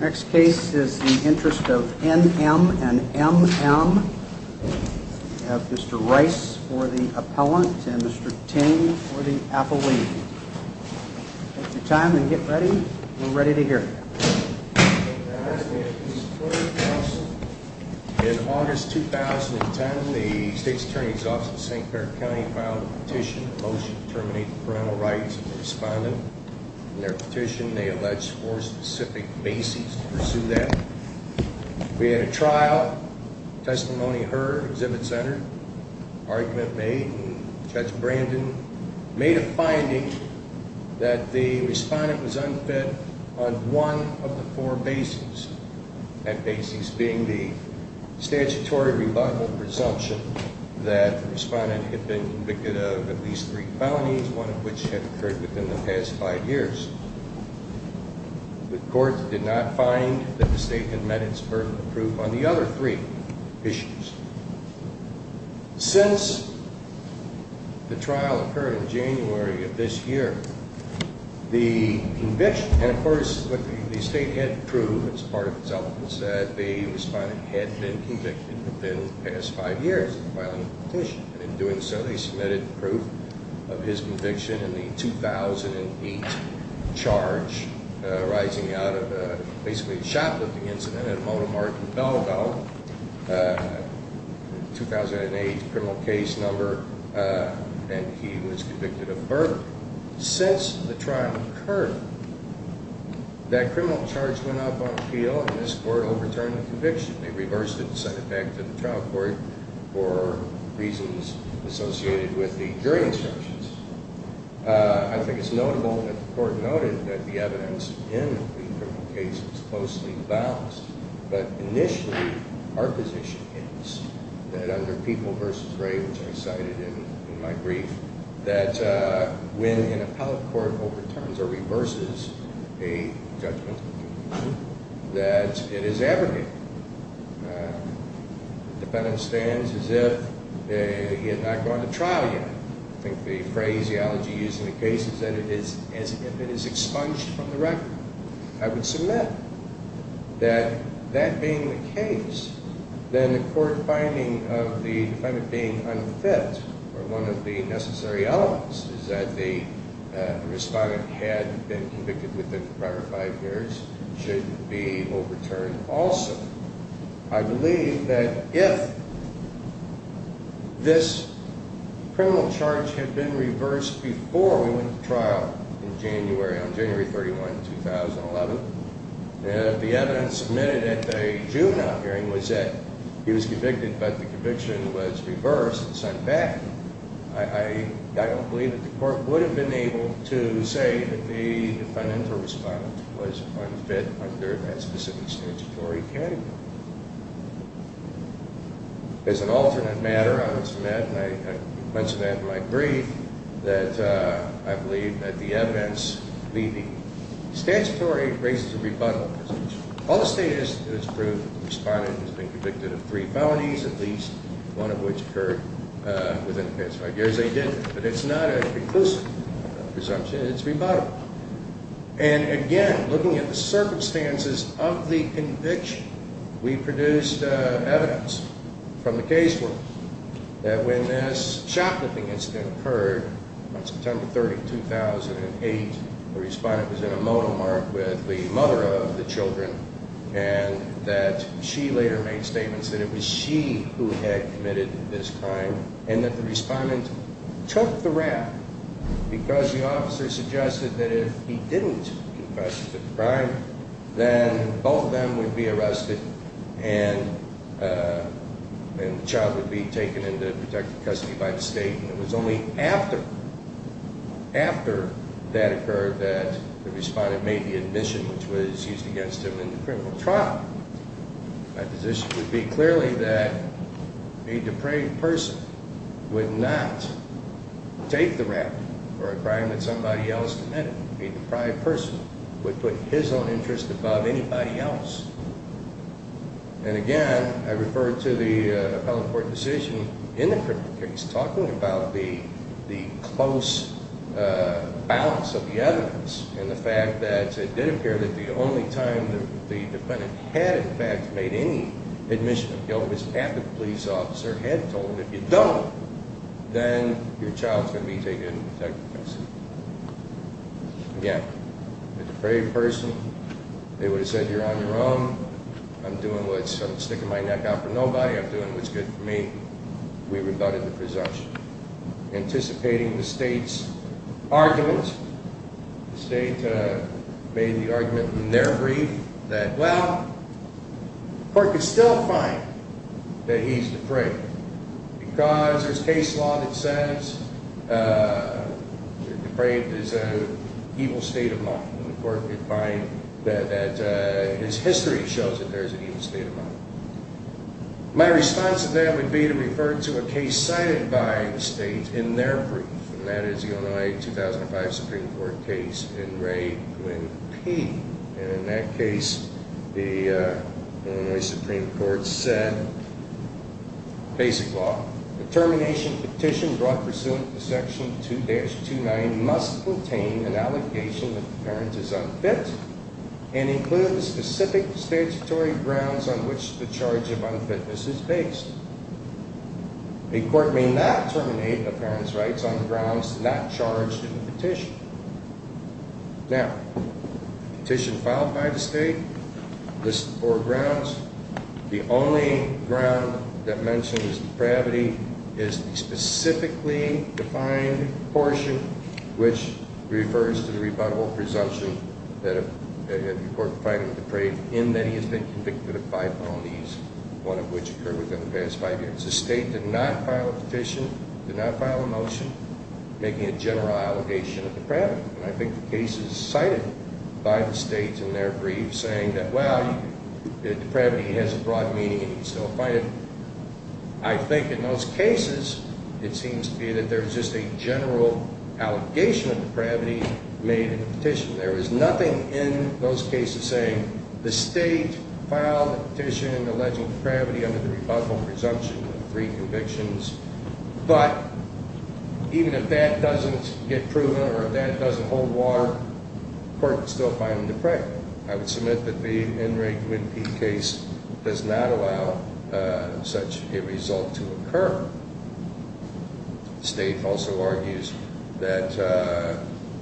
Next case is the Interest of N.M. & M.M. We have Mr. Rice for the Appellant and Mr. Ting for the Appellee. Take your time and get ready. We're ready to hear. Thank you, Your Honor. May I speak to this court, counsel? In August 2010, the State's Attorney's Office of St. Clair County filed a petition, a motion to terminate parental rights of the respondent. In their petition, they allege four specific bases to pursue that. We had a trial. Testimony heard. Exhibit centered. Argument made. Judge Brandon made a finding that the respondent was unfit on one of the four bases. That basis being the statutory rebuttal presumption that the respondent had been convicted of at least three felonies, one of which had occurred within the past five years. The court did not find that the statement met its pertinent proof on the other three issues. Since the trial occurred in January of this year, the conviction, of course, the State had proved as part of its elements that the respondent had been convicted within the past five years of filing a petition. And in doing so, they submitted proof of his conviction in the 2008 charge arising out of basically a shot-lifting incident at Monomark and Belleville, 2008 criminal case number, and he was convicted of murder. Since the trial occurred, that criminal charge went up on appeal and this court overturned the conviction. They reversed it and sent it back to the trial court for reasons associated with the jury instructions. I think it's notable that the court noted that the evidence in the criminal case was closely balanced. But initially, our position is that under People v. Wray, which I cited in my brief, that when an appellate court overturns or reverses a judgment, that it is abrogated. The defendant stands as if he had not gone to trial yet. I think the phrase, the elegy used in the case is that it is as if it is expunged from the record. I would submit that that being the case, then the court finding of the defendant being unfit or one of the necessary elements is that the respondent had been convicted within the prior five years should be overturned also. I believe that if this criminal charge had been reversed before we went to trial in January, on January 31, 2011, if the evidence submitted at the juvenile hearing was that he was convicted but the conviction was reversed and sent back, I don't believe that the court would have been able to say that the defendant or respondent was unfit under that specific statutory category. As an alternate matter, I would submit, and I mentioned that in my brief, that I believe that the evidence leading to statutory raises a rebuttal position. All the state has proved that the respondent has been convicted of three felonies, at least one of which occurred within the past five years. They did, but it's not a reclusive presumption, it's rebuttable. And again, looking at the circumstances of the conviction, we produced evidence from the casework that when this shoplifting incident occurred on September 30, 2008, the respondent was in a monomark with the mother of the children and that she later made statements that it was she who had committed this crime and that the respondent took the rap because the officer suggested that if he didn't confess to the crime, then both of them would be arrested and the child would be taken into protective custody by the state and it was only after that occurred that the respondent made the admission which was used against him in the criminal trial. My position would be clearly that a depraved person would not take the rap for a crime that somebody else committed. A deprived person would put his own interest above anybody else. And again, I refer to the appellant court decision in the criminal case talking about the close balance of the evidence and the fact that it did appear that the only time the defendant had in fact made any admission of guilt was after the police officer had told him if you don't, then your child is going to be taken into protective custody. Again, a depraved person, they would have said you're on your own, I'm doing what's, I'm sticking my neck out for nobody, I'm doing what's good for me, we rebutted the presumption. Anticipating the state's argument, the state made the argument in their brief that well, the court could still find that he's depraved because there's case law that says depraved is an evil state of mind. The court could find that his history shows that there's an evil state of mind. My response to that would be to refer to a case cited by the state in their brief, and that is the Illinois 2005 Supreme Court case in Ray Quinn P. And in that case, the Illinois Supreme Court said, basic law, the termination petition brought pursuant to section 2-29 must contain an allocation if the parent is unfit and include specific statutory grounds on which the charge of unfitness is based. A court may not terminate a parent's rights on grounds not charged in the petition. Now, petition filed by the state, lists the four grounds. The only ground that mentions depravity is the specifically defined portion which refers to the rebuttable presumption that the court find him depraved in that he has been convicted of five felonies, one of which occurred within the past five years. The state did not file a petition, did not file a motion making a general allegation of depravity. And I think the case is cited by the state in their brief saying that, well, depravity has a broad meaning and he's still fighting. I think in those cases, it seems to be that there's just a general allegation of depravity made in the petition. There is nothing in those cases saying the state filed a petition alleging depravity under the rebuttal presumption of three convictions. But even if that doesn't get proven or if that doesn't hold water, the court can still find him depraved. I would submit that the Enrig Winpeat case does not allow such a result to occur. The state also argues that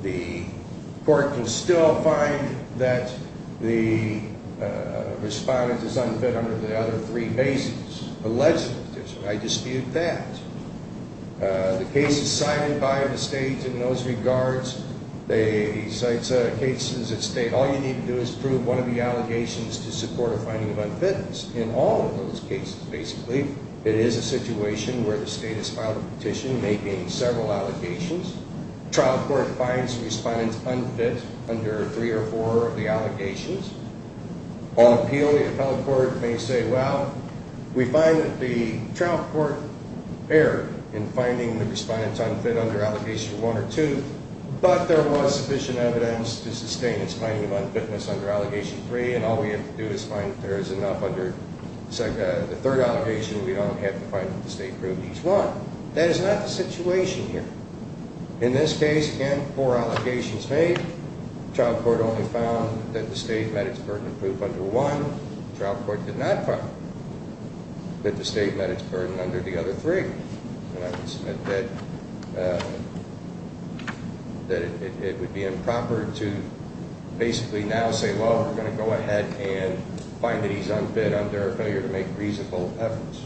the court can still find that the respondent is unfit under the other three bases, alleged petition. I dispute that. The case is cited by the state in those regards. He cites cases that state all you need to do is prove one of the allegations to support a finding of unfitness. In all of those cases, basically, it is a situation where the state has filed a petition making several allegations. Trial court finds the respondent unfit under three or four of the allegations. All appeal, the appellate court may say, well, we find that the trial court erred in finding the respondent unfit under allegation one or two. But there was sufficient evidence to sustain its finding of unfitness under allegation three. And all we have to do is find that there is enough under the third allegation. We don't have to find that the state proved each one. That is not the situation here. In this case, again, four allegations made. Trial court only found that the state met its burden of proof under one. Trial court did not find that the state met its burden under the other three. And I would submit that it would be improper to basically now say, well, we're going to go ahead and find that he's unfit under a failure to make reasonable efforts.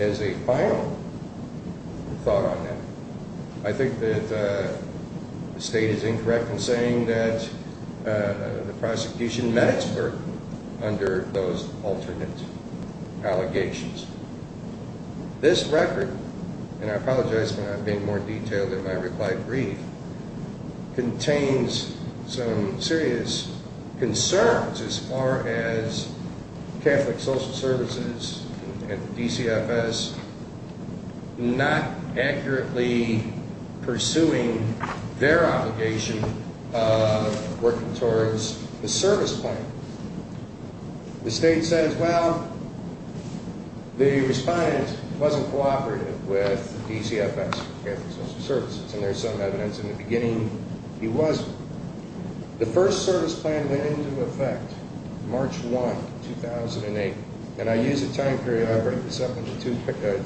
As a final thought on that, I think that the state is incorrect in saying that the prosecution met its burden under those alternate allegations. This record, and I apologize for not being more detailed in my reply brief, contains some serious concerns as far as Catholic Social Services and DCFS not accurately pursuing their obligation of working towards the service plan. The state says, well, the respondent wasn't cooperative with DCFS and Catholic Social Services. And there's some evidence in the beginning he wasn't. The first service plan went into effect March 1, 2008. And I use a time period. I break this up into two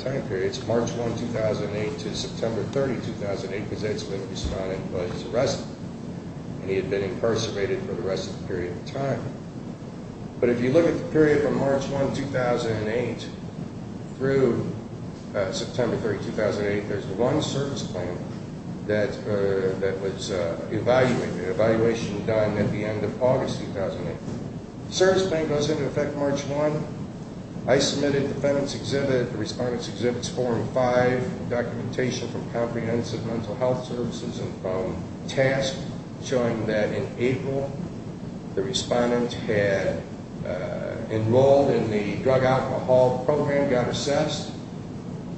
time periods, March 1, 2008 to September 30, 2008, because that's when the respondent was arrested. And he had been impersonated for the rest of the period of time. But if you look at the period from March 1, 2008 through September 30, 2008, there's one service plan that was evaluation done at the end of August 2008. Service plan goes into effect March 1. I submitted defendant's exhibit, the respondent's exhibits form five, documentation from comprehensive mental health services and phone tasks, showing that in April, the respondent had enrolled in the drug alcohol program, got assessed.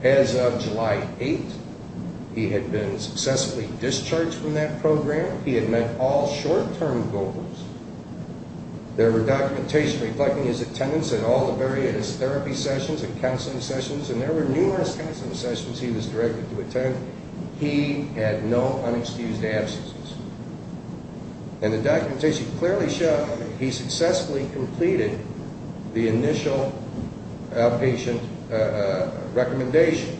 As of July 8, he had been successfully discharged from that program. He had met all short-term goals. There were documentation reflecting his attendance in all the various therapy sessions and counseling sessions. And there were numerous counseling sessions he was directed to attend. He had no unexcused absences. And the documentation clearly showed that he successfully completed the initial outpatient recommendation.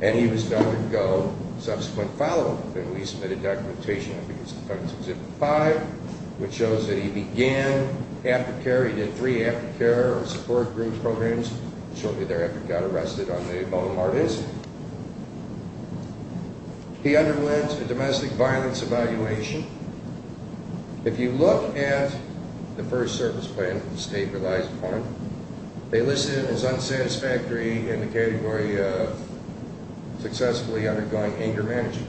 And he was done to go subsequent follow-up. And we submitted documentation, I think it's the defendant's exhibit five, which shows that he began aftercare. He did three aftercare support group programs shortly thereafter and got arrested on the Baltimore incident. He underwent a domestic violence evaluation. If you look at the first service plan that the state relies upon, they listed it as unsatisfactory in the category of successfully undergoing anger management.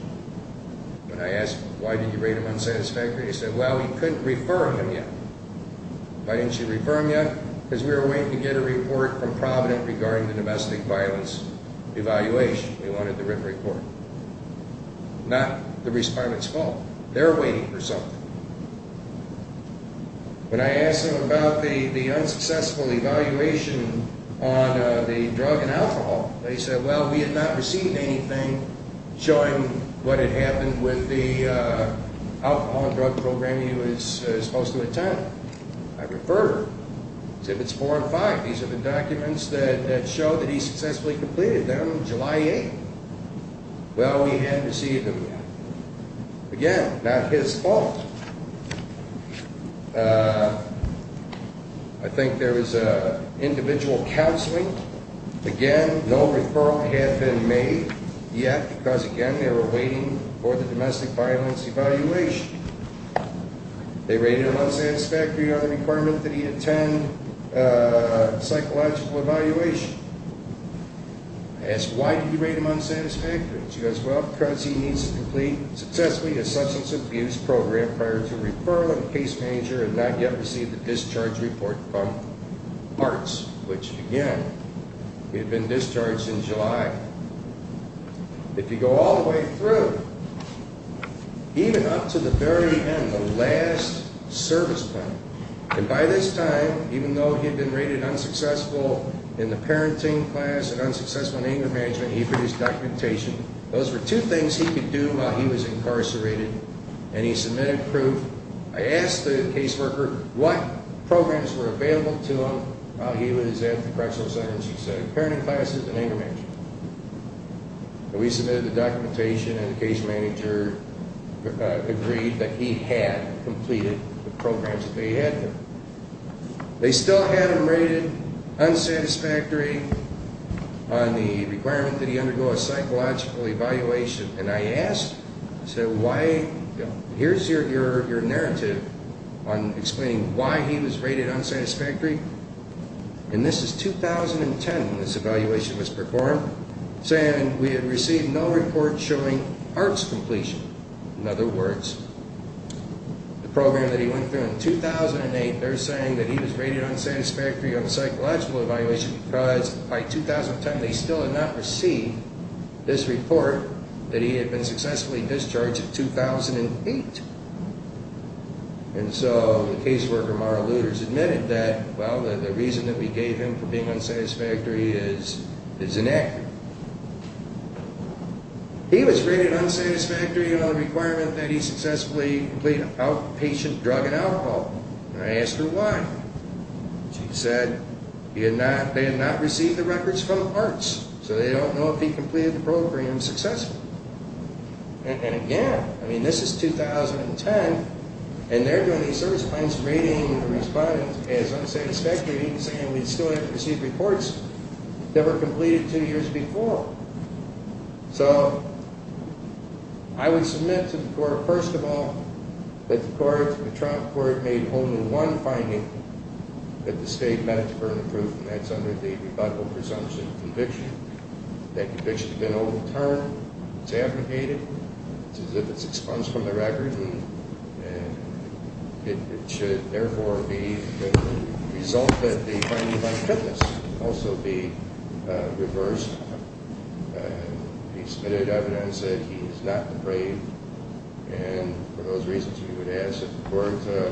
When I asked, why did you rate him unsatisfactory, he said, well, we couldn't refer him yet. Why didn't you refer him yet? Because we were waiting to get a report from Provident regarding the domestic violence evaluation. We wanted the written report. Not the respondent's fault. They're waiting for something. When I asked him about the unsuccessful evaluation on the drug and alcohol, they said, well, we had not received anything showing what had happened with the alcohol and drug program he was supposed to attend. I referred him. Exhibits four and five, these are the documents that show that he successfully completed them July 8th. Well, we hadn't received them yet. Again, not his fault. I think there was individual counseling. Again, no referral had been made yet because, again, they were waiting for the domestic violence evaluation. They rated him unsatisfactory on the requirement that he attend psychological evaluation. I asked, why did you rate him unsatisfactory? He goes, well, because he needs to complete successfully a substance abuse program prior to referral and case manager and not yet receive the discharge report from ARTS, which, again, he had been discharged in July. If you go all the way through, even up to the very end, the last service plan, and by this time, even though he had been rated unsuccessful in the parenting class and unsuccessful in anger management, he produced documentation. Those were two things he could do while he was incarcerated, and he submitted proof. I asked the caseworker what programs were available to him while he was at the correctional center, and she said, parenting classes and anger management. We submitted the documentation, and the case manager agreed that he had completed the programs that they had done. They still had him rated unsatisfactory on the requirement that he undergo a psychological evaluation, and I asked, here's your narrative on explaining why he was rated unsatisfactory, and this is 2010 when this evaluation was performed, saying we had received no report showing ARTS completion. In other words, the program that he went through in 2008, they're saying that he was rated unsatisfactory on the psychological evaluation because by 2010, they still had not received this report that he had been successfully discharged in 2008. And so the caseworker, Mara Luters, admitted that, well, the reason that we gave him for being unsatisfactory is inaccurate. He was rated unsatisfactory on the requirement that he successfully complete outpatient drug and alcohol, and I asked her why. She said they had not received the records from ARTS, so they don't know if he completed the program successfully. And again, I mean, this is 2010, and they're doing these service plans, rating the respondents as unsatisfactory, saying we still haven't received reports that were completed two years before. So, I would submit to the court, first of all, that the court, the trial court, made only one finding that the state met for improvement, and that's under the rebuttal presumption conviction. That conviction has been overturned. It's abdicated. It's as if it's expunged from the record, and it should, therefore, be the result that the finding by witness also be reversed. He submitted evidence that he is not depraved, and for those reasons, we would ask the court to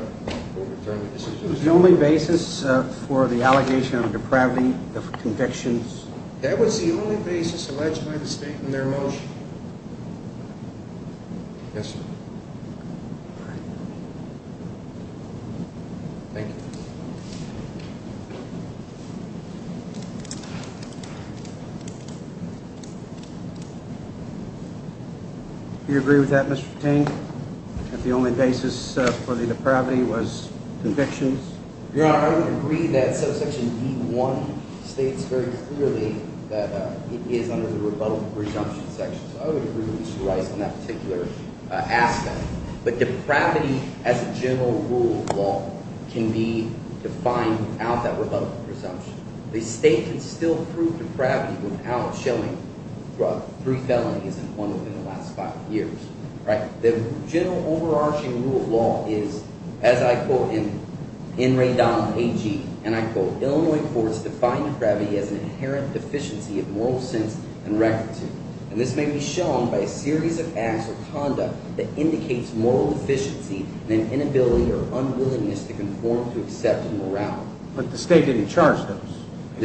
overturn the decision. Was it the only basis for the allegation of depravity of convictions? That was the only basis alleged by the state in their motion. Yes, sir. All right. Thank you. Do you agree with that, Mr. Ting, that the only basis for the depravity was convictions? Yeah, I would agree that subsection E1 states very clearly that it is under the rebuttal presumption section. So I would agree with Mr. Rice on that particular aspect, but depravity as a general rule of law can be defined without that rebuttal presumption. The state can still prove depravity without showing three felonies and one within the last five years. The general overarching rule of law is, as I quote in Ray Donald A.G., and I quote, of moral sense and rectitude. And this may be shown by a series of acts or conduct that indicates moral deficiency and an inability or unwillingness to conform to accepted morale. But the state didn't charge those.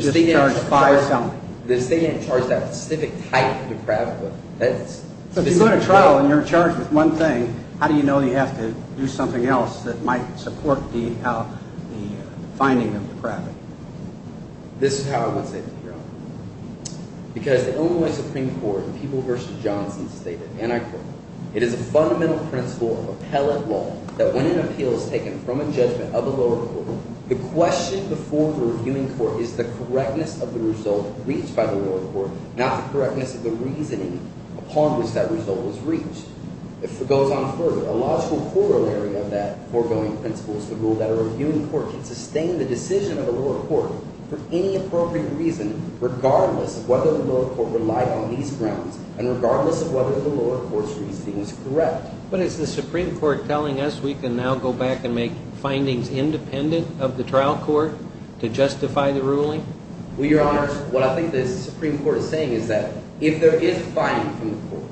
The state charged five felonies. The state didn't charge that specific type of depravity. So if you go to trial and you're charged with one thing, how do you know you have to do something else that might support the finding of depravity? This is how I would say to the jury. Because the Illinois Supreme Court in People v. Johnson stated, and I quote, it is a fundamental principle of appellate law that when an appeal is taken from a judgment of a lower court, the question before the reviewing court is the correctness of the result reached by the lower court, not the correctness of the reasoning upon which that result was reached. If it goes on further, a logical corollary of that foregoing principle is the rule that a reviewing court can sustain the decision of a lower court for any appropriate reason, regardless of whether the lower court relied on these grounds and regardless of whether the lower court's reasoning is correct. But is the Supreme Court telling us we can now go back and make findings independent of the trial court to justify the ruling? Well, Your Honors, what I think the Supreme Court is saying is that if there is finding from the court,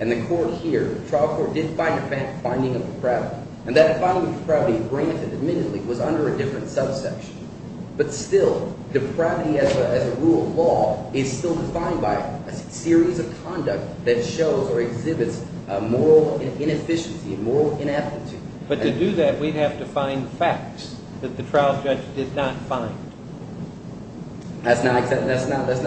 and the court here, the trial court did find a finding of depravity, and that finding of depravity, granted, admittedly, was under a different subsection. But still, depravity as a rule of law is still defined by a series of conduct that shows or exhibits moral inefficiency, moral ineptitude. But to do that, we'd have to find facts that the trial judge did not find. That's not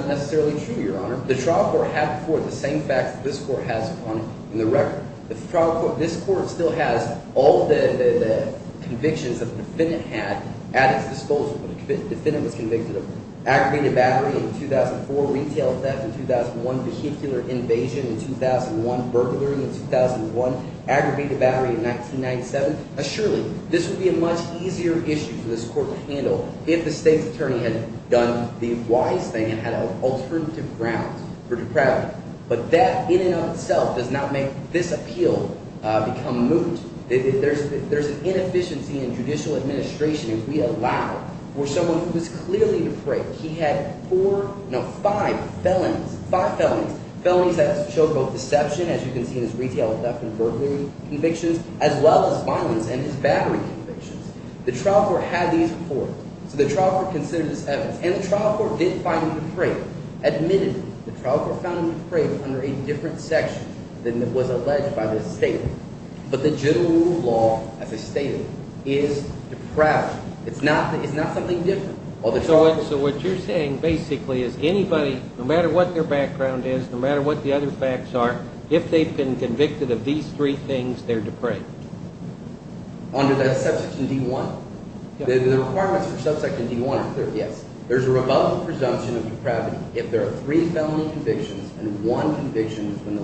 necessarily true, Your Honor. The trial court had before it the same facts that this court has upon it in the record. The trial court – this court still has all the convictions that the defendant had at its disposal. The defendant was convicted of aggravated battery in 2004, retail theft in 2001, vehicular invasion in 2001, burglary in 2001, aggravated battery in 1997. Now, surely, this would be a much easier issue for this court to handle if the state's attorney had done the wise thing and had alternative grounds for depravity. But that in and of itself does not make this appeal become moot. There's an inefficiency in judicial administration if we allow for someone who is clearly depraved. He had four – no, five felonies, five felonies. Felonies that show both deception, as you can see in his retail theft and burglary convictions, as well as violence and his battery convictions. The trial court had these before, so the trial court considered this evidence. And the trial court did find him depraved. Admittedly, the trial court found him depraved under a different section than was alleged by the statement. But the general rule of law, as I stated, is depravity. It's not something different. So what you're saying basically is anybody, no matter what their background is, no matter what the other facts are, if they've been convicted of these three things, they're depraved. Under that subsection D-1. The requirements for subsection D-1 are clear, yes. There's a rebuttal presumption of depravity if there are three felony convictions and one conviction in the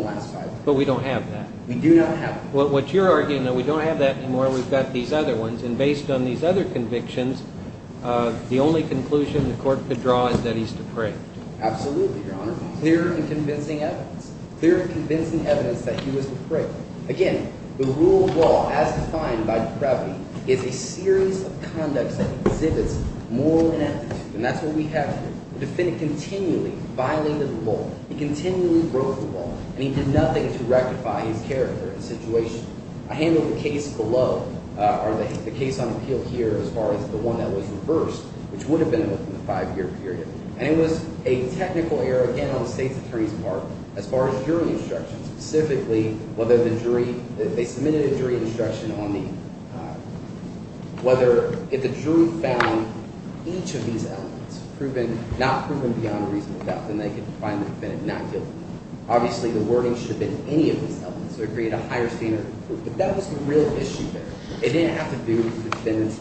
last five. But we don't have that. We do not have that. What you're arguing, though, we don't have that anymore. We've got these other ones. And based on these other convictions, the only conclusion the court could draw is that he's depraved. Absolutely, Your Honor. Clear and convincing evidence. Clear and convincing evidence that he was depraved. Again, the rule of law, as defined by depravity, is a series of conducts that exhibits moral ineptitude. And that's what we have here. The defendant continually violated the law. He continually broke the law. And he did nothing to rectify his character and situation. I handled the case below, or the case on appeal here, as far as the one that was reversed, which would have been within the five-year period. And it was a technical error, again, on the State's attorney's part, as far as jury instruction, specifically whether the jury – they submitted a jury instruction on the – whether if the jury found each of these elements not proven beyond a reasonable doubt, then they could find the defendant not guilty. Obviously, the wording should have been any of these elements, so it would have created a higher standard of proof. But that was the real issue there. It didn't have to do with the defendant's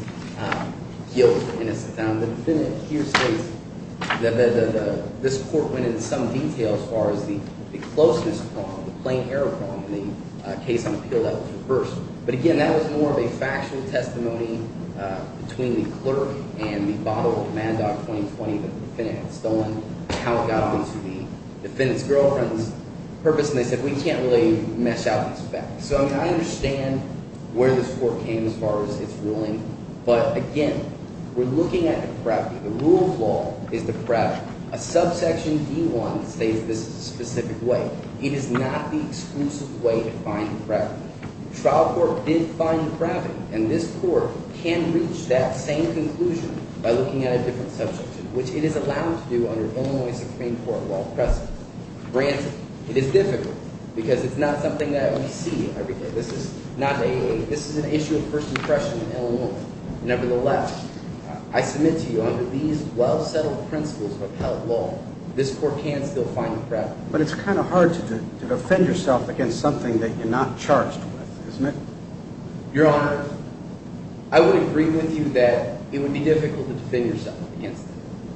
guilt or innocence. Now, the defendant here states that this court went into some detail as far as the closeness problem, the plain error problem in the case on appeal that was reversed. But again, that was more of a factual testimony between the clerk and the bottle of Mad Dog 2020 that the defendant had stolen. And how it got into the defendant's girlfriend's purpose. And they said, we can't really mesh out these facts. So I understand where this court came as far as its ruling. But again, we're looking at depravity. The rule of law is depravity. A subsection D-1 states this specific way. It is not the exclusive way to find depravity. The trial court did find depravity, and this court can reach that same conclusion by looking at a different subsection, which it is allowed to do under Illinois Supreme Court while present. Granted, it is difficult because it's not something that we see every day. This is an issue of first impression in Illinois. Nevertheless, I submit to you under these well-settled principles of appellate law, this court can still find depravity. But it's kind of hard to defend yourself against something that you're not charged with, isn't it? Your Honor, I would agree with you that it would be difficult to defend yourself against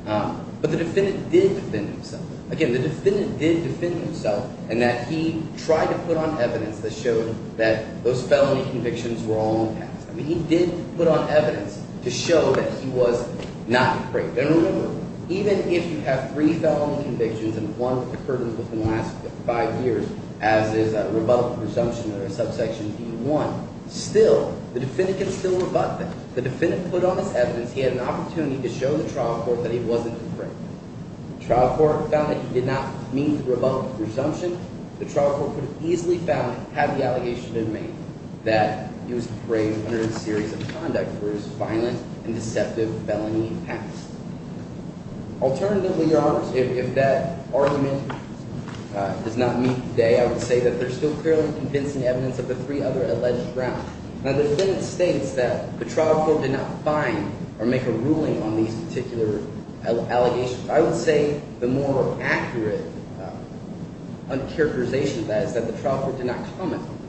that. But the defendant did defend himself. Again, the defendant did defend himself in that he tried to put on evidence that showed that those felony convictions were all unpassed. I mean he did put on evidence to show that he was not depraved. And remember, even if you have three felony convictions and one occurred within the last five years, as is a rebuttal presumption under subsection D-1, still, the defendant can still rebut that. The defendant put on his evidence he had an opportunity to show the trial court that he wasn't depraved. The trial court found that he did not meet the rebuttal presumption. The trial court could have easily found, had the allegation been made, that he was depraved under a series of conduct for his violent and deceptive felony past. Alternatively, Your Honor, if that argument does not meet today, I would say that there's still clearly convincing evidence of the three other alleged grounds. Now, the defendant states that the trial court did not find or make a ruling on these particular allegations. I would say the more accurate characterization of that is that the trial court did not comment on them.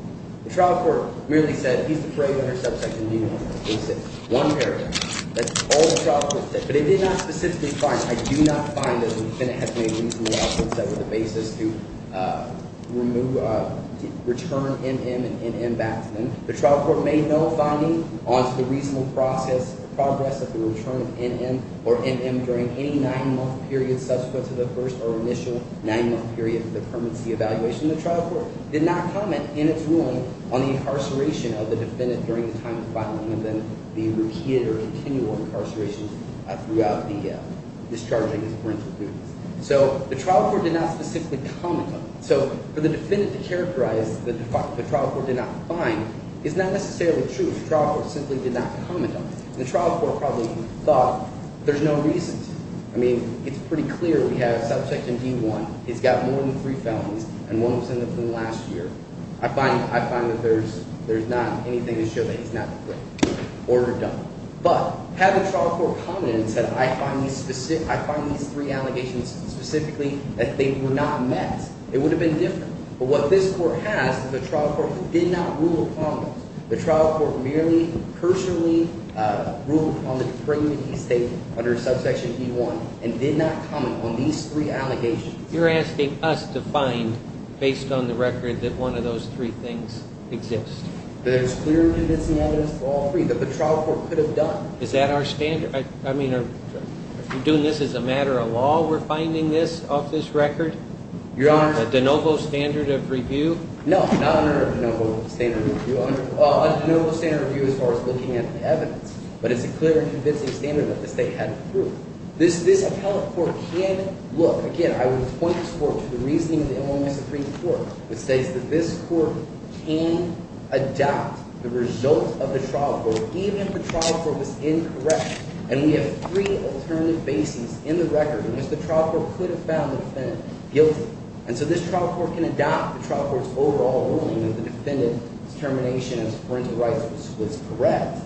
The trial court merely said he's depraved under subsection D-1. They said one paragraph. That's all the trial court said. But it did not specifically find, I do not find that the defendant has made reasonable efforts ever the basis to remove, return NM and NM back to them. The trial court made no finding onto the reasonable process, progress of the return of NM or NM during any nine-month period subsequent to the first or initial nine-month period for the permanency evaluation. The trial court did not comment in its ruling on the incarceration of the defendant during the time of filing and then the repeated or continual incarceration throughout the discharging of parental duties. So the trial court did not specifically comment on it. So for the defendant to characterize the trial court did not find is not necessarily true. The trial court simply did not comment on it. And the trial court probably thought there's no reason to. I mean, it's pretty clear. We have subsection D-1. He's got more than three felonies and one was in the blue last year. I find that there's not anything to show that he's not the culprit. Order done. But had the trial court commented and said I find these three allegations specifically that they were not met, it would have been different. But what this court has is a trial court that did not rule upon those. You're asking us to find based on the record that one of those three things exist. There's clear and convincing evidence for all three that the trial court could have done. Is that our standard? I mean, are we doing this as a matter of law? We're finding this off this record? Your Honor. A de novo standard of review? No, not a de novo standard of review. A de novo standard of review as far as looking at the evidence. But it's a clear and convincing standard that the state had approved. This appellate court can look. Again, I would point this court to the reasoning of the Illinois Supreme Court, which states that this court can adopt the result of the trial court even if the trial court was incorrect. And we have three alternative bases in the record in which the trial court could have found the defendant guilty. And so this trial court can adopt the trial court's overall ruling that the defendant's termination of his parental rights was correct.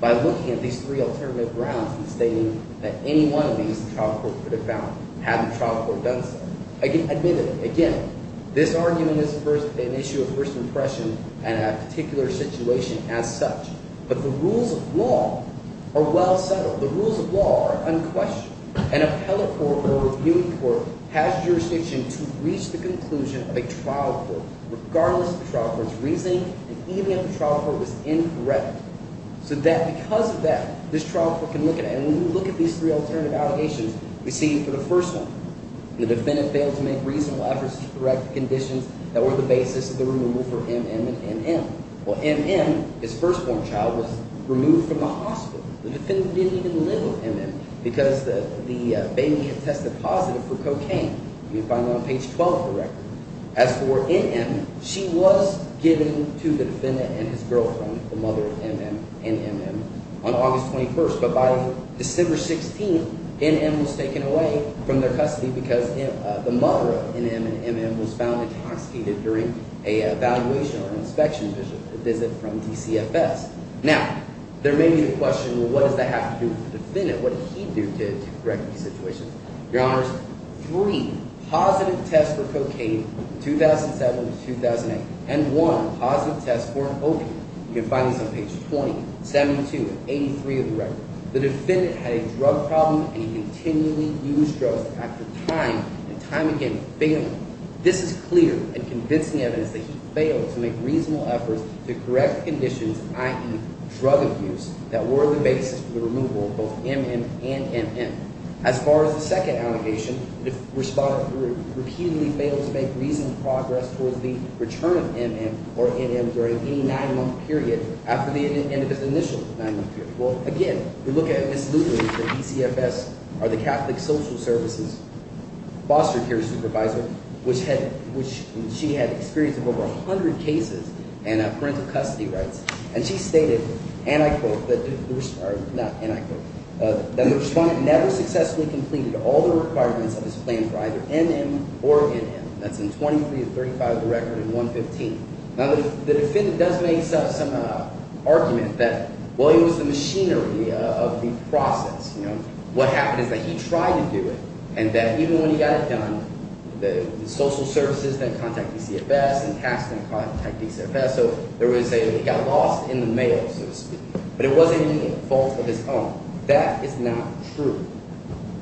By looking at these three alternative grounds and stating that any one of these the trial court could have found had the trial court done so. Admittedly, again, this argument is an issue of first impression and a particular situation as such. But the rules of law are well settled. The rules of law are unquestioned. An appellate court or a review court has jurisdiction to reach the conclusion of a trial court regardless of the trial court's reasoning and even if the trial court was incorrect. So that – because of that, this trial court can look at it. And when we look at these three alternative allegations, we see for the first one, the defendant failed to make reasonable efforts to correct the conditions that were the basis of the removal for M.M. and M.M. Well, M.M., his firstborn child, was removed from the hospital. The defendant didn't even live with M.M. because the baby had tested positive for cocaine. You can find that on page 12 of the record. As for N.M., she was given to the defendant and his girlfriend, the mother of M.M. and M.M., on August 21. But by December 16, N.M. was taken away from their custody because the mother of N.M. and M.M. was found intoxicated during an evaluation or an inspection visit from DCFS. Now, there may be the question, well, what does that have to do with the defendant? What did he do to correct the situation? Your Honors, three positive tests for cocaine in 2007 to 2008 and one positive test for an opiate. You can find this on page 20, 72, and 83 of the record. The defendant had a drug problem and he continually used drugs after time and time again failing. This is clear and convincing evidence that he failed to make reasonable efforts to correct the conditions, i.e., drug abuse, that were the basis for the removal of both M.M. and M.M. As far as the second allegation, the respondent repeatedly failed to make reasonable progress towards the return of M.M. or N.M. during any nine-month period after the end of his initial nine-month period. Well, again, we look at Ms. Lutheran at DCFS or the Catholic Social Services foster care supervisor, which she had experience of over 100 cases and parental custody rights. And she stated, and I quote – not and I quote – that the respondent never successfully completed all the requirements of his plan for either M.M. or N.M. That's in 23 of 35 of the record and 115. Now, the defendant does make some argument that, well, it was the machinery of the process. What happened is that he tried to do it and that even when he got it done, the social services didn't contact DCFS and tax didn't contact DCFS. So there was a – it got lost in the mail, so to speak. But it wasn't any fault of his own. That is not true.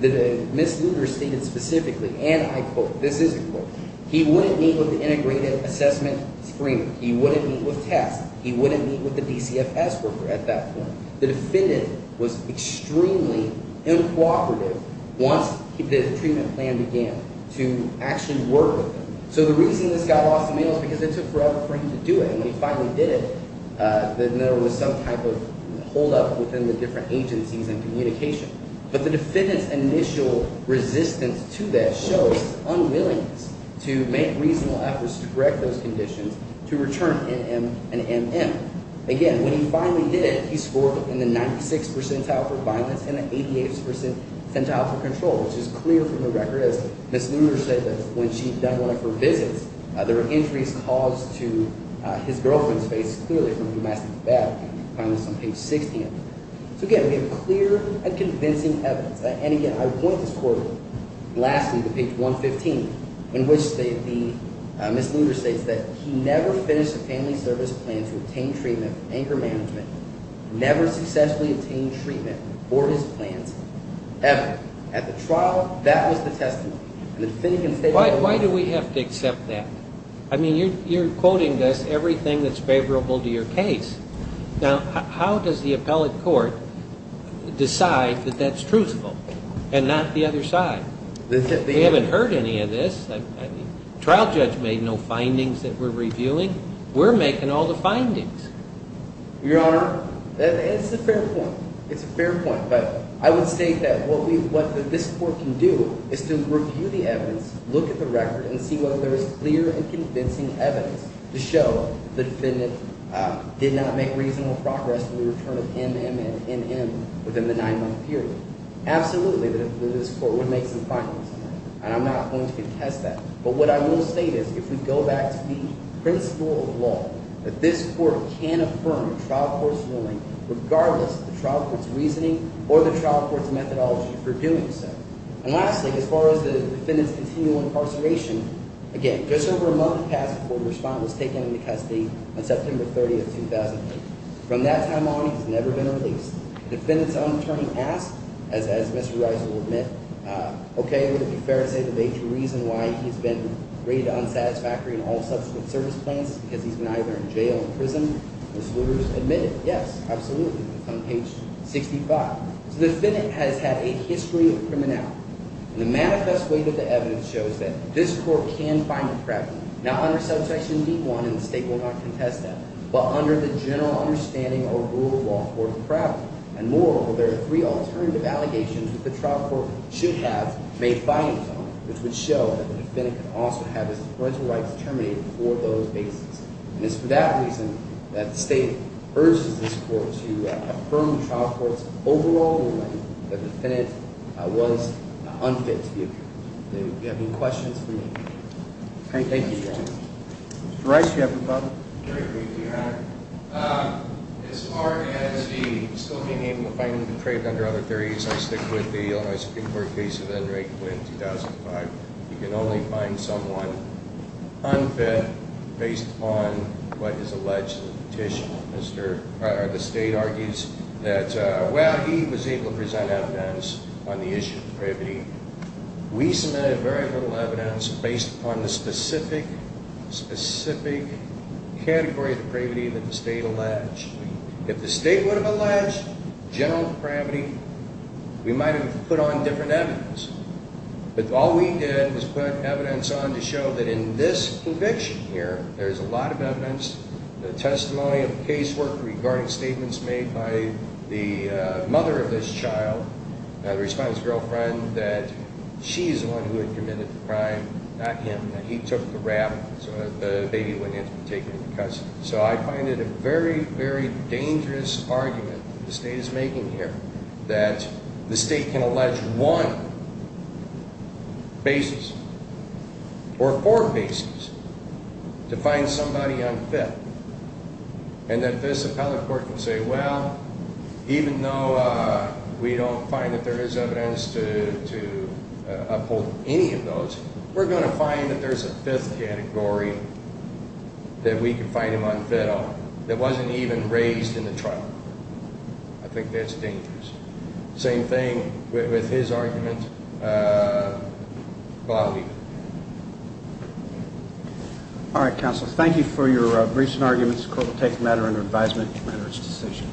Ms. Luther stated specifically, and I quote – this is a quote – he wouldn't meet with the integrated assessment screening. He wouldn't meet with tests. He wouldn't meet with the DCFS worker at that point. The defendant was extremely uncooperative once the treatment plan began to actually work with them. So the reason this got lost in the mail is because it took forever for him to do it, and when he finally did it, then there was some type of holdup within the different agencies and communication. But the defendant's initial resistance to that shows his unwillingness to make reasonable efforts to correct those conditions to return N.M. and M.M. Again, when he finally did it, he scored in the 96th percentile for violence and the 88th percentile for control, which is clear from the record as Ms. Luther stated. When she'd done one of her visits, there were injuries caused to his girlfriend's face, clearly from domestic violence, on page 16. So again, we have clear and convincing evidence. And again, I want this court – lastly, to page 115, in which the – Ms. Luther states that he never finished a family service plan to obtain treatment for anger management, never successfully obtained treatment for his plans ever. At the trial, that was the testament. And the defendant can state – Why do we have to accept that? I mean, you're quoting us everything that's favorable to your case. Now, how does the appellate court decide that that's truthful and not the other side? We haven't heard any of this. The trial judge made no findings that we're reviewing. We're making all the findings. Your Honor, it's a fair point. It's a fair point, but I would state that what we – what this court can do is to review the evidence, look at the record, and see whether there is clear and convincing evidence to show the defendant did not make reasonable progress in the return of M-M and M-M within the nine-month period. Absolutely, this court would make some findings. And I'm not going to contest that. But what I will state is if we go back to the principle of law, that this court can affirm trial court's ruling regardless of the trial court's reasoning or the trial court's methodology for doing so. And lastly, as far as the defendant's continual incarceration, again, just over a month passed before the respondent was taken into custody on September 30th, 2008. From that time on, he's never been released. The defendant's own attorney asked, as Mr. Reiser will admit, okay, would it be fair to say the major reason why he's been rated unsatisfactory in all subsequent service plans is because he's been either in jail or prison? Ms. Lewis admitted, yes, absolutely. It's on page 65. So the defendant has had a history of criminality. And the manifest weight of the evidence shows that this court can find a problem, not under subsection D-1, and the state will not contest that, but under the general understanding or rule of law for the problem. And moreover, there are three alternative allegations that the trial court should have made findings on, which would show that the defendant could also have his employment rights terminated for those bases. And it's for that reason that the state urges this court to affirm the trial court's overall ruling that the defendant was unfit to be a jury. Do you have any questions for me? Thank you, Your Honor. Mr. Reiser, do you have a problem? Very briefly, Your Honor. As far as the still being able to find the trait under other theories, I stick with the Illinois Supreme Court case of Ed Ray Quinn, 2005. You can only find someone unfit based upon what is alleged in the petition. The state argues that, well, he was able to present evidence on the issue of privity. We submitted very little evidence based upon the specific, specific category of privity that the state alleged. If the state would have alleged general privity, we might have put on different evidence. But all we did was put evidence on to show that in this conviction here, there's a lot of evidence, the testimony of casework regarding statements made by the mother of this child, the respondent's girlfriend, that she's the one who had committed the crime, not him, that he took the rap, so that the baby wouldn't have to be taken into custody. So I find it a very, very dangerous argument the state is making here that the state can allege one basis or four bases to find somebody unfit, and that this appellate court can say, well, even though we don't find that there is evidence to uphold any of those, we're going to find that there's a fifth category that we can find him unfit on that wasn't even raised in the trial. I think that's dangerous. Same thing with his argument. But I'll leave it there. All right, counsel. Thank you for your briefs and arguments. The court will take a matter under advisement to render its decision.